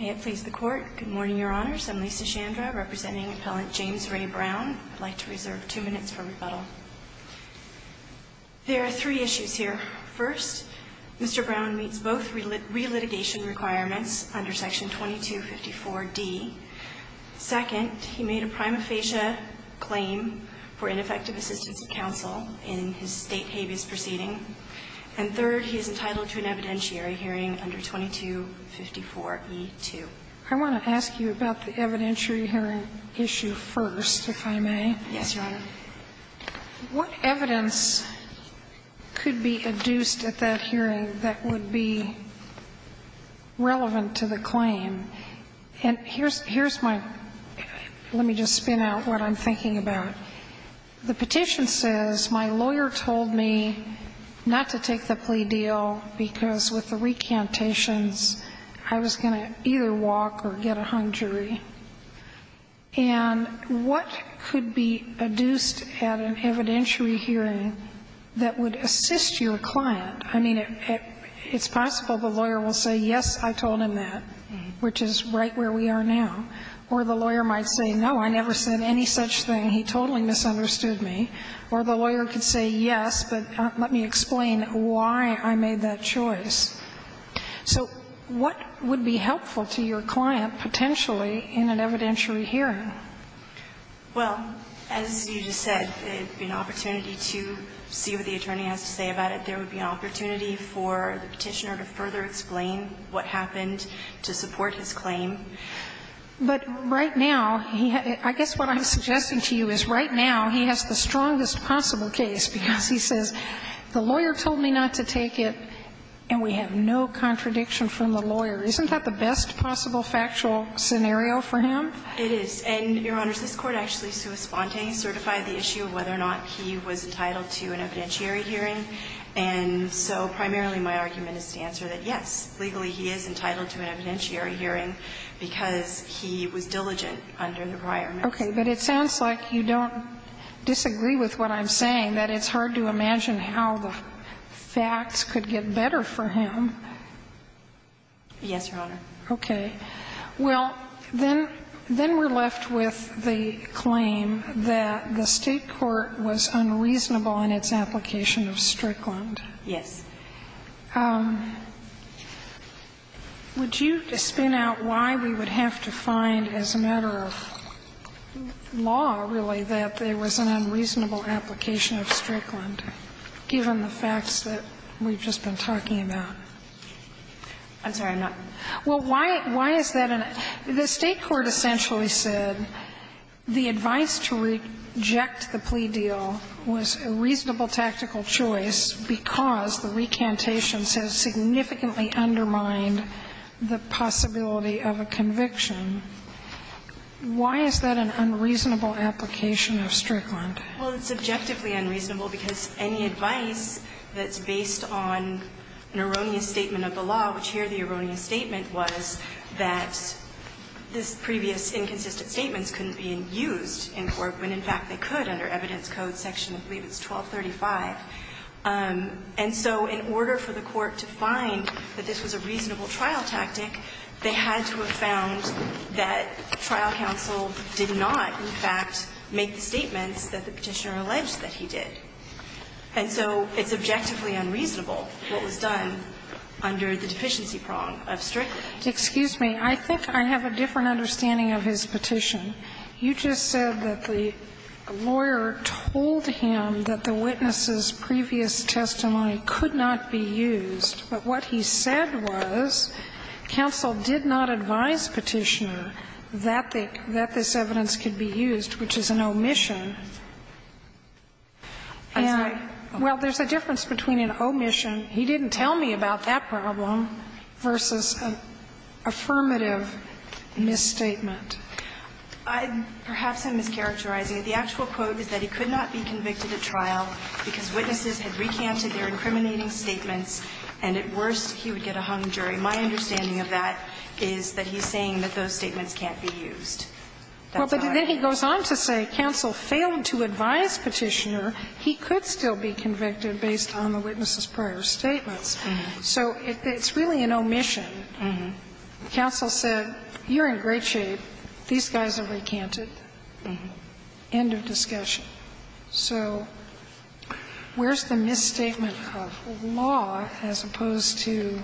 May it please the Court. Good morning, Your Honors. I'm Lisa Chandra, representing Appellant James Ray Brown. I'd like to reserve two minutes for rebuttal. There are three issues here. First, Mr. Brown meets both relitigation requirements under Section 2254d. Second, he made a prima facie claim for ineffective assistance of counsel in his state habeas proceeding. And third, he is I want to ask you about the evidentiary hearing issue first, if I may. Yes, Your Honor. What evidence could be adduced at that hearing that would be relevant to the claim? And here's my – let me just spin out what I'm thinking about. The petition says, my lawyer told me not to take the plea deal because with the recantations I was going to either walk or get a hung jury. And what could be adduced at an evidentiary hearing that would assist your client? I mean, it's possible the lawyer will say, yes, I told him that, which is right where we are now. Or the lawyer might say, no, I never said any such thing. He totally misunderstood me. Or the lawyer could say, yes, but let me explain why I made that choice. So what would be helpful to your client, potentially, in an evidentiary hearing? Well, as you just said, it would be an opportunity to see what the attorney has to say about it. There would be an opportunity for the petitioner to further explain what happened to support his claim. But right now, he had – I guess what I'm suggesting to you is right now, he has the right to say, yes, he says, the lawyer told me not to take it, and we have no contradiction from the lawyer. Isn't that the best possible factual scenario for him? It is. And, Your Honors, this Court actually, sua sponte, certified the issue of whether or not he was entitled to an evidentiary hearing. And so primarily my argument is to answer that, yes, legally he is entitled to an evidentiary hearing because he was diligent under the prior message. Okay. But it sounds like you don't disagree with what I'm saying, that it's hard to imagine how the facts could get better for him. Yes, Your Honor. Okay. Well, then – then we're left with the claim that the State court was unreasonable in its application of Strickland. Yes. Would you spin out why we would have to find, as a matter of law, really, that there was an unreasonable application of Strickland, given the facts that we've just been talking about? I'm sorry, I'm not – Well, why is that? The State court essentially said the advice to reject the plea deal was a reasonable tactical choice because the recantation has significantly undermined the possibility of a conviction. Why is that an unreasonable application of Strickland? Well, it's subjectively unreasonable because any advice that's based on an erroneous statement of the law, which here the erroneous statement was that this previous inconsistent statement couldn't be used in court when, in fact, they could under evidence code section, I believe it's 1235. And so in order for the court to find that this was a reasonable trial tactic, they had to have found that trial counsel did not, in fact, make the statements that the Petitioner alleged that he did. And so it's objectively unreasonable what was done under the deficiency prong of Strickland. Excuse me. I think I have a different understanding of his petition. You just said that the lawyer told him that the witness's previous testimony could not be used, but what he said was counsel did not advise Petitioner that this evidence could be used, which is an omission. And I – well, there's a difference between an omission, he didn't tell me about that problem, versus an affirmative misstatement. I'm – perhaps I'm mischaracterizing it. The actual quote is that he could not be convicted at trial because witnesses had recanted their incriminating statements, and at worst he would get a hung jury. My understanding of that is that he's saying that those statements can't be used. That's how I understand it. Well, but then he goes on to say counsel failed to advise Petitioner he could still be convicted based on the witness's prior statements. So it's really an omission. Counsel said, you're in great shape. These guys have recanted. End of discussion. So where's the misstatement of law as opposed to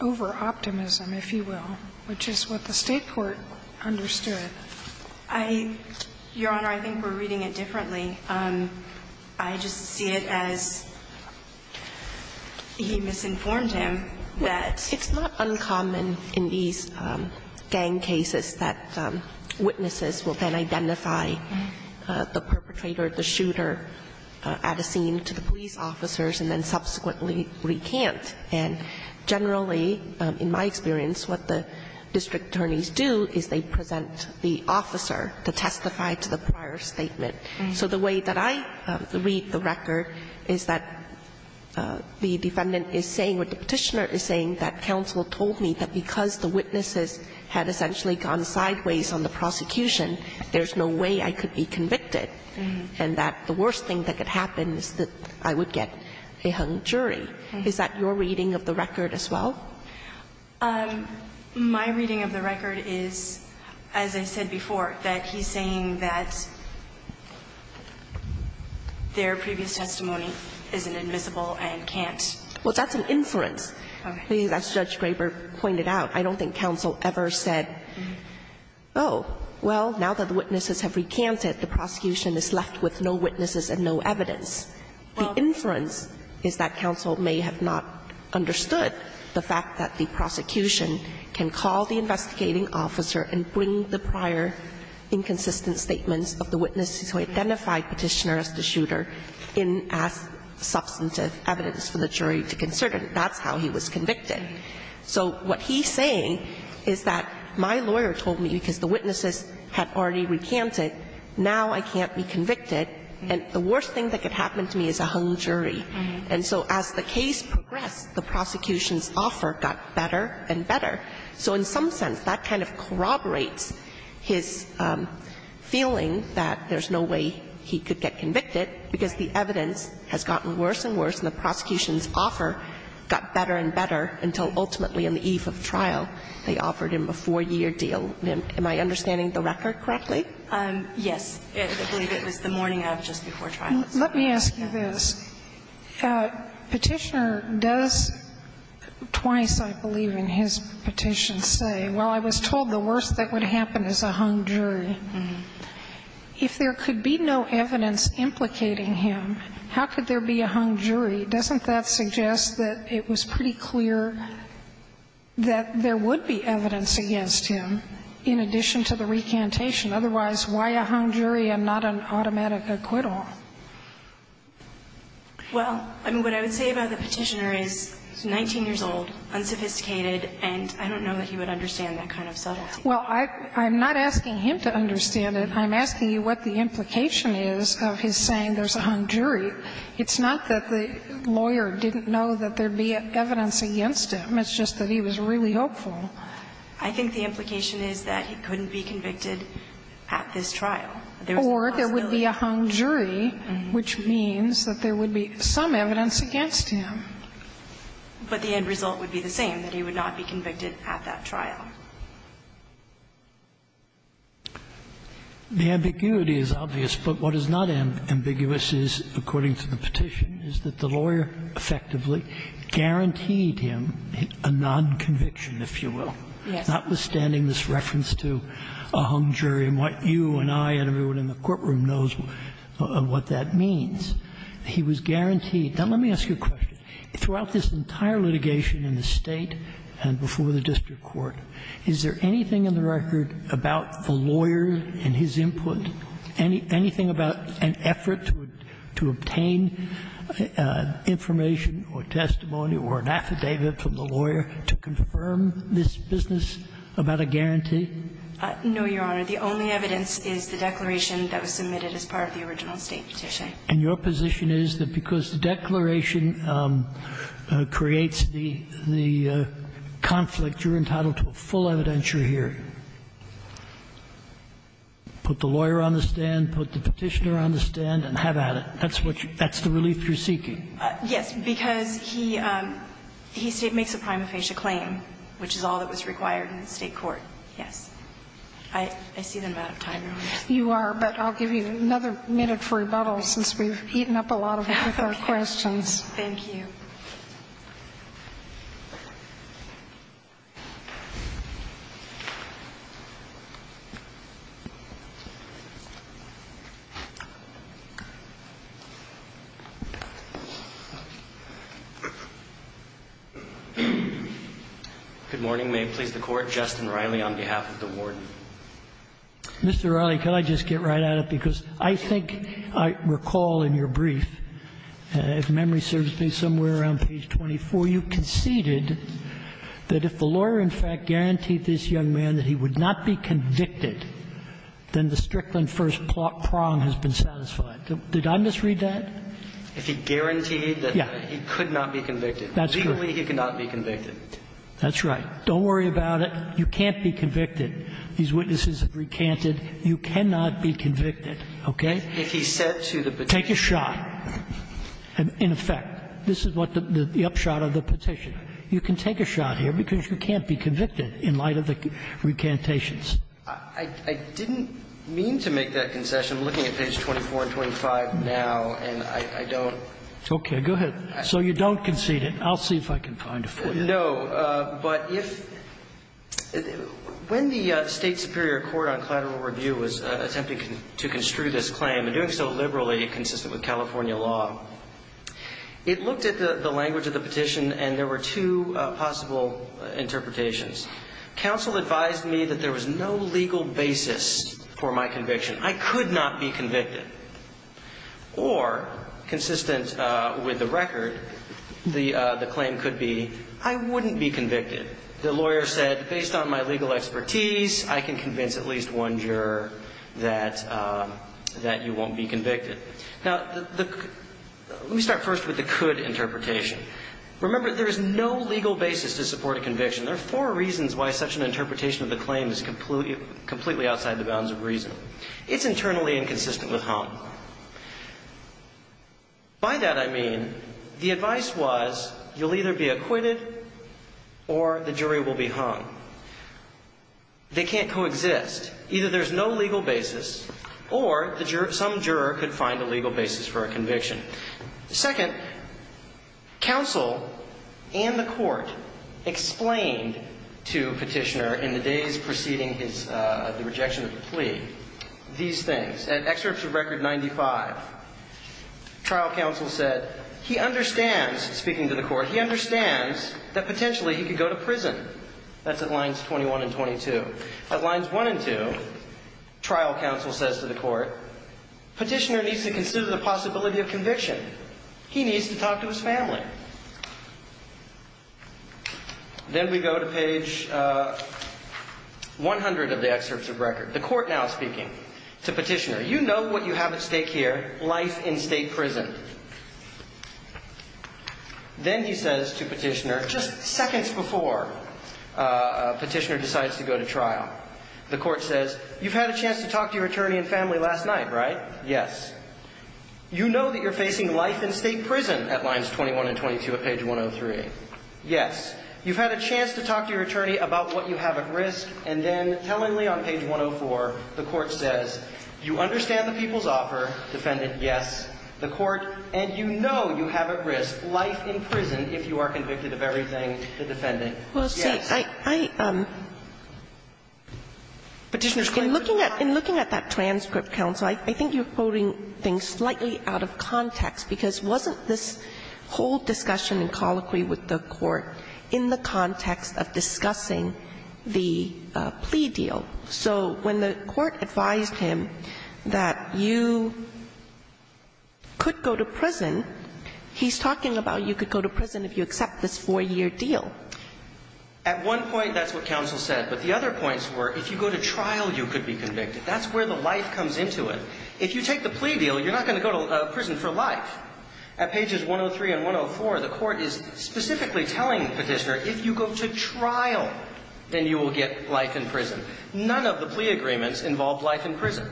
over-optimism, if you will, which is what the State court understood? I – Your Honor, I think we're reading it differently. I just see it as he misinformed him that – that witnesses will then identify the perpetrator, the shooter, at a scene to the police officers and then subsequently recant. And generally, in my experience, what the district attorneys do is they present the officer to testify to the prior statement. So the way that I read the record is that the defendant is saying what the Petitioner is saying, that counsel told me that because the witnesses had essentially gone sideways on the prosecution, there's no way I could be convicted, and that the worst thing that could happen is that I would get a hung jury. Is that your reading of the record as well? My reading of the record is, as I said before, that he's saying that their previous testimony isn't invisible and can't – Well, that's an inference. As Judge Graber pointed out, I don't think counsel ever said, oh, well, now that the witnesses have recanted, the prosecution is left with no witnesses and no evidence. The inference is that counsel may have not understood the fact that the prosecution can call the investigating officer and bring the prior inconsistent statements of the witnesses who identified Petitioner as the shooter and ask substantive evidence for the jury to consider. And that's how he was convicted. So what he's saying is that my lawyer told me because the witnesses had already recanted, now I can't be convicted, and the worst thing that could happen to me is a hung jury. And so as the case progressed, the prosecution's offer got better and better. So in some sense, that kind of corroborates his feeling that there's no way he could get convicted, because the evidence has gotten worse and worse, and the prosecution's offer got better and better until ultimately on the eve of trial, they offered him a four-year deal. Am I understanding the record correctly? Yes, I believe it was the morning of just before trial. Let me ask you this. Petitioner does twice, I believe, in his petitions say, well, I was told the worst that would happen is a hung jury. If there could be no evidence implicating him, how could there be a hung jury? Doesn't that suggest that it was pretty clear that there would be evidence against him in addition to the recantation? Otherwise, why a hung jury and not an automatic acquittal? Well, I mean, what I would say about the Petitioner is he's 19 years old, unsophisticated, and I don't know that he would understand that kind of subtlety. Well, I'm not asking him to understand it. I'm asking you what the implication is of his saying there's a hung jury. It's not that the lawyer didn't know that there'd be evidence against him. It's just that he was really hopeful. I think the implication is that he couldn't be convicted at this trial. There's a possibility. Or there would be a hung jury, which means that there would be some evidence against him. But the end result would be the same, that he would not be convicted at that trial. The ambiguity is obvious, but what is not ambiguous is, according to the Petitioner, is that the lawyer effectively guaranteed him a nonconviction, if you will, notwithstanding this reference to a hung jury and what you and I and everyone in the courtroom knows what that means. He was guaranteed. Now, let me ask you a question. Throughout this entire litigation in the State and before the district court, is there anything in the record about the lawyer and his input, anything about an effort to obtain information or testimony or an affidavit from the lawyer to confirm this business about a guarantee? No, Your Honor. The only evidence is the declaration that was submitted as part of the original State petition. And your position is that because the declaration creates the conflict, you're entitled to a full evidentiary hearing? Put the lawyer on the stand, put the Petitioner on the stand and have at it. That's what you – that's the relief you're seeking? Yes, because he makes a prima facie claim, which is all that was required in the State court, yes. I see that I'm out of time, Your Honor. You are, but I'll give you another minute for rebuttal since we've eaten up a lot of time with our questions. Thank you. Good morning. May it please the Court. Justin Riley on behalf of the Warden. Mr. Riley, can I just get right at it? Because I think I recall in your brief, if memory serves me, somewhere around page 24, you conceded that if the lawyer in fact guaranteed this young man that he would not be convicted, then the Strickland first prong has been satisfied. Did I misread that? If he guaranteed that he could not be convicted. That's true. Legally, he could not be convicted. That's right. Don't worry about it. You can't be convicted. These witnesses have recanted. You cannot be convicted. Okay? If he said to the Petitioner. Take a shot. In effect, this is what the upshot of the Petition. You can take a shot here because you can't be convicted in light of the recantations. I didn't mean to make that concession. I'm looking at page 24 and 25 now, and I don't. Okay. So you don't concede it. I'll see if I can find it for you. No, but if when the State Superior Court on Collateral Review was attempting to construe this claim and doing so liberally consistent with California law, it looked at the language of the petition, and there were two possible interpretations. Counsel advised me that there was no legal basis for my conviction. Or consistent with the record, the claim could be I wouldn't be convicted. The lawyer said, based on my legal expertise, I can convince at least one juror that you won't be convicted. Now, let me start first with the could interpretation. Remember, there is no legal basis to support a conviction. There are four reasons why such an interpretation of the claim is completely outside the bounds of reason. It's internally inconsistent with Hump. By that, I mean the advice was you'll either be acquitted or the jury will be hung. They can't coexist. Either there's no legal basis or some juror could find a legal basis for a conviction. Second, counsel and the court explained to Petitioner in the days preceding the rejection of the plea these things. At excerpts of record 95, trial counsel said he understands, speaking to the court, he understands that potentially he could go to prison. That's at lines 21 and 22. At lines one and two, trial counsel says to the court, Petitioner needs to consider the possibility of conviction. He needs to talk to his family. Then we go to page 100 of the excerpts of record. The court now speaking to Petitioner, you know what you have at stake here, life in state prison. Then he says to Petitioner, just seconds before Petitioner decides to go to trial, the court says, you've had a chance to talk to your attorney and family last night, right? Yes. You know that you're facing life in state prison at lines 21 and 22 at page 103. Yes. You've had a chance to talk to your attorney about what you have at risk. And then tellingly on page 104, the court says, you understand the people's offer, defendant, yes. The court, and you know you have at risk life in prison if you are convicted of everything, the defendant. Yes. Kagan, in looking at that transcript, counsel, I think you're quoting things slightly out of context, because wasn't this whole discussion and colloquy with the court in the context of discussing the plea deal? So when the court advised him that you could go to prison, he's talking about you could go to prison if you accept this 4-year deal. At one point, that's what counsel said. But the other points were, if you go to trial, you could be convicted. That's where the life comes into it. If you take the plea deal, you're not going to go to prison for life. At pages 103 and 104, the court is specifically telling the petitioner, if you go to trial, then you will get life in prison. None of the plea agreements involve life in prison.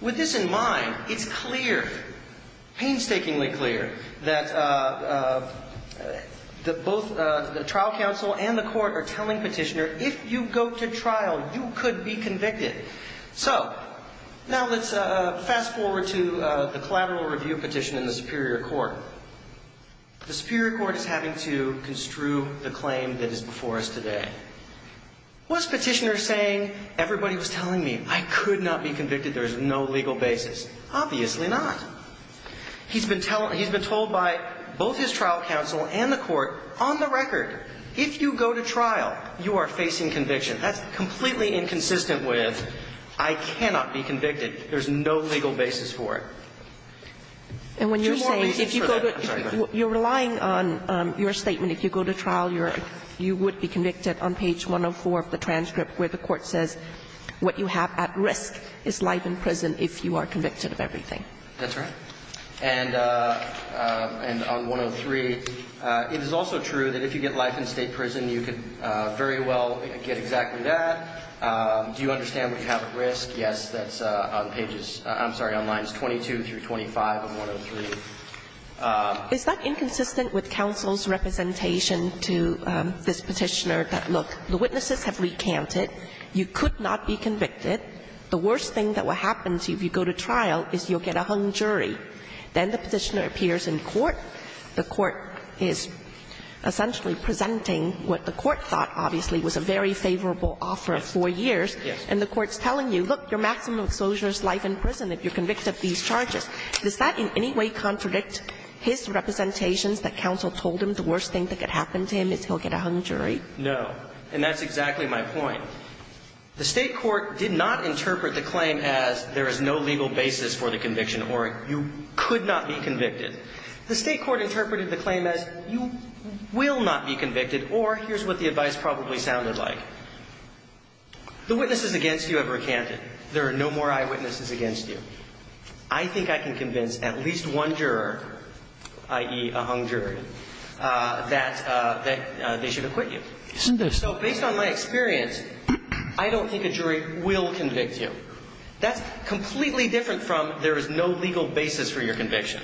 With this in mind, it's clear, painstakingly clear, that both the trial counsel and the court are telling petitioner, if you go to trial, you could be convicted. So now let's fast forward to the collateral review petition in the Superior Court. The Superior Court is having to construe the claim that is before us today. Was petitioner saying, everybody was telling me I could not be convicted, there is no legal basis? Obviously not. He's been told by both his trial counsel and the court, on the record, if you go to trial, you are facing conviction. That's completely inconsistent with, I cannot be convicted, there's no legal basis for it. There's more reason for that. I'm sorry, go ahead. You're relying on your statement, if you go to trial, you would be convicted on page 104 of the transcript where the court says, what you have at risk is life in prison if you are convicted of everything. That's right. And on 103, it is also true that if you get life in state prison, you could very well get exactly that. Do you understand what you have at risk? Yes, that's on pages, I'm sorry, on lines 22 through 25 of 103. Is that inconsistent with counsel's representation to this petitioner that, look, the witnesses have recanted, you could not be convicted. The worst thing that will happen to you if you go to trial is you'll get a hung jury. Then the petitioner appears in court, the court is essentially presenting what the court thought, obviously, was a very favorable offer of four years. Yes. And the court's telling you, look, your maximum exposure is life in prison if you're convicted of these charges. Does that in any way contradict his representations that counsel told him the worst thing that could happen to him is he'll get a hung jury? No. And that's exactly my point. The state court did not interpret the claim as there is no legal basis for the conviction or you could not be convicted. The state court interpreted the claim as you will not be convicted, or here's what the advice probably sounded like. The witnesses against you have recanted. There are no more eyewitnesses against you. I think I can convince at least one juror, i.e. a hung jury, that they should acquit you. Isn't that so? So based on my experience, I don't think a jury will convict you. That's completely different from there is no legal basis for your conviction.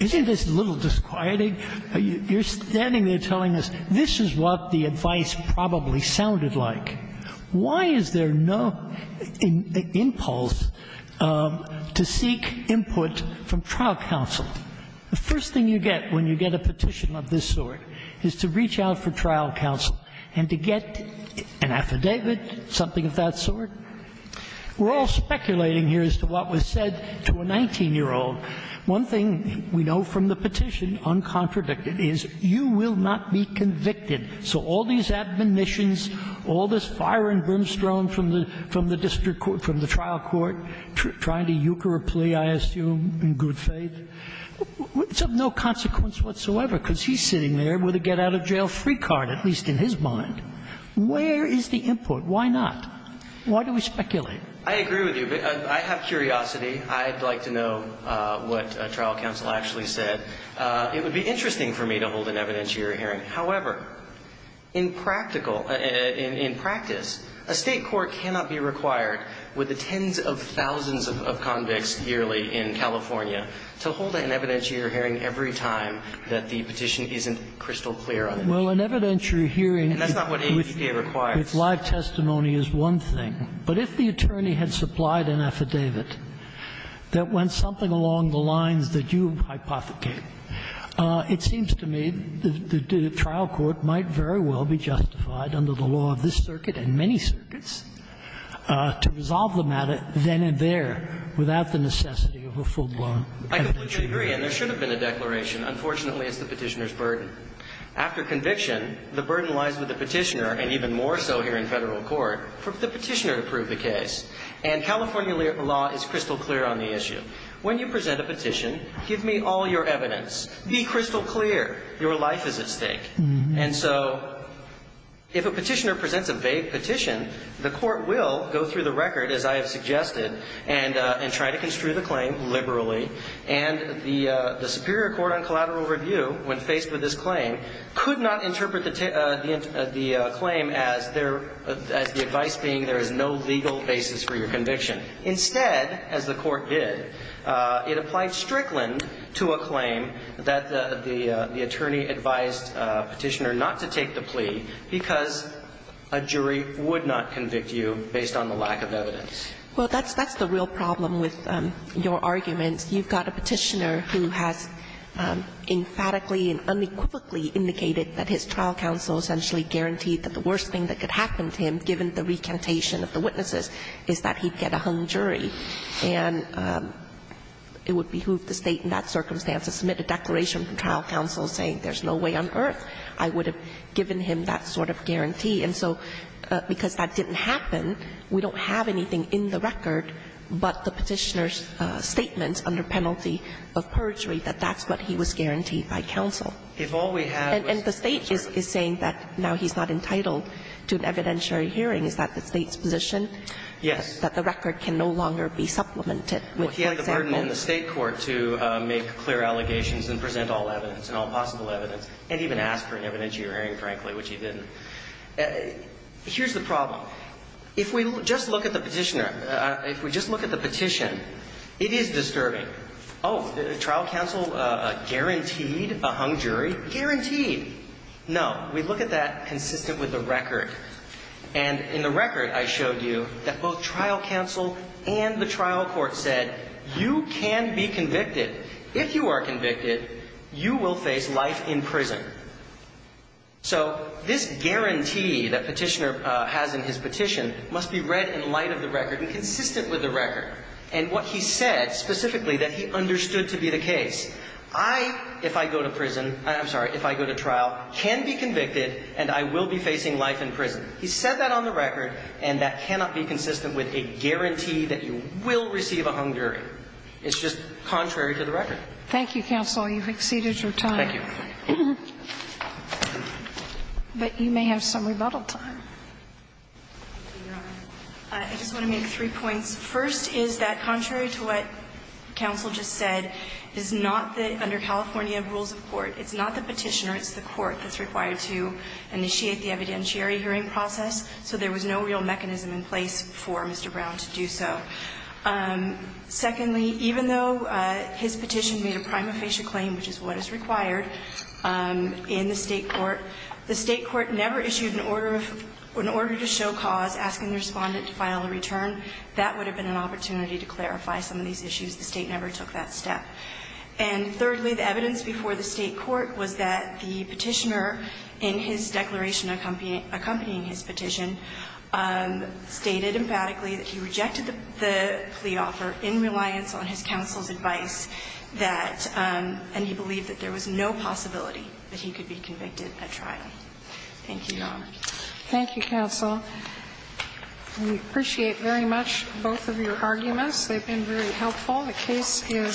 Isn't this a little disquieting? You're standing there telling us this is what the advice probably sounded like. Why is there no impulse to seek input from trial counsel? The first thing you get when you get a petition of this sort is to reach out for trial counsel and to get an affidavit, something of that sort. We're all speculating here as to what was said to a 19-year-old. One thing we know from the petition, uncontradicted, is you will not be convicted. So all these admonitions, all this fire and brimstone from the district court, from good faith, it's of no consequence whatsoever, because he's sitting there with a get-out-of-jail-free card, at least in his mind. Where is the input? Why not? Why do we speculate? I agree with you. I have curiosity. I'd like to know what trial counsel actually said. It would be interesting for me to hold an evidence to your hearing. However, in practical – in practice, a State court cannot be required with the tens of thousands of convicts yearly in California to hold an evidence to your hearing every time that the petition isn't crystal clear on the case. Well, an evidence to your hearing with live testimony is one thing. But if the attorney had supplied an affidavit that went something along the lines that you hypothecate, it seems to me the trial court might very well be justified under the law of this circuit and many circuits to resolve the matter then and there without the necessity of a full-blown evidence to your hearing. I completely agree, and there should have been a declaration. Unfortunately, it's the Petitioner's burden. After conviction, the burden lies with the Petitioner, and even more so here in Federal Court, for the Petitioner to prove the case. And California law is crystal clear on the issue. When you present a petition, give me all your evidence. Be crystal clear. Your life is at stake. And so if a Petitioner presents a vague petition, the court will go through the record, as I have suggested, and try to construe the claim liberally. And the Superior Court on Collateral Review, when faced with this claim, could not interpret the claim as the advice being there is no legal basis for your conviction. Instead, as the court did, it applied Strickland to a claim that the attorney advised the Petitioner not to take the plea because a jury would not convict you based on the lack of evidence. Well, that's the real problem with your arguments. You've got a Petitioner who has emphatically and unequivocally indicated that his trial counsel essentially guaranteed that the worst thing that could happen to him, given the recantation of the witnesses, is that he'd get a hung jury. And it would behoove the State in that circumstance to submit a declaration to trial counsel saying there's no way on earth I would have given him that sort of guarantee. And so because that didn't happen, we don't have anything in the record but the Petitioner's statements under penalty of perjury, that that's what he was guaranteed by counsel. And the State is saying that now he's not entitled to an evidentiary hearing. Is that the State's position? Yes. That the record can no longer be supplemented. He had the burden on the State court to make clear allegations and present all evidence and all possible evidence and even ask for an evidentiary hearing, frankly, which he didn't. Here's the problem. If we just look at the Petitioner, if we just look at the petition, it is disturbing. Oh, trial counsel guaranteed a hung jury? Guaranteed. No. We look at that consistent with the record. And in the record, I showed you that both trial counsel and the trial court said you can be convicted. If you are convicted, you will face life in prison. So this guarantee that Petitioner has in his petition must be read in light of the record and consistent with the record. And what he said specifically that he understood to be the case. I, if I go to prison, I'm sorry, if I go to trial, can be convicted and I will be facing life in prison. He said that on the record and that cannot be consistent with a guarantee that you will receive a hung jury. It's just contrary to the record. Thank you, counsel. You've exceeded your time. Thank you. But you may have some rebuttal time. I just want to make three points. First, is that contrary to what counsel just said, is not that under California rules of court, it's not the Petitioner, it's the court that's required to initiate the evidentiary hearing process. So there was no real mechanism in place for Mr. Brown to do so. Secondly, even though his petition made a prima facie claim, which is what is required in the state court, the state court never issued an order of an order to show cause asking the respondent to file a return. That would have been an opportunity to clarify some of these issues. The state never took that step. And thirdly, the evidence before the state court was that the Petitioner in his declaration accompanying his petition stated emphatically that he rejected the plea offer in reliance on his counsel's advice that, and he believed that there was no possibility that he could be convicted at trial. Thank you, Your Honor. Thank you, counsel. We appreciate very much both of your arguments. They've been very helpful. The case is submitted.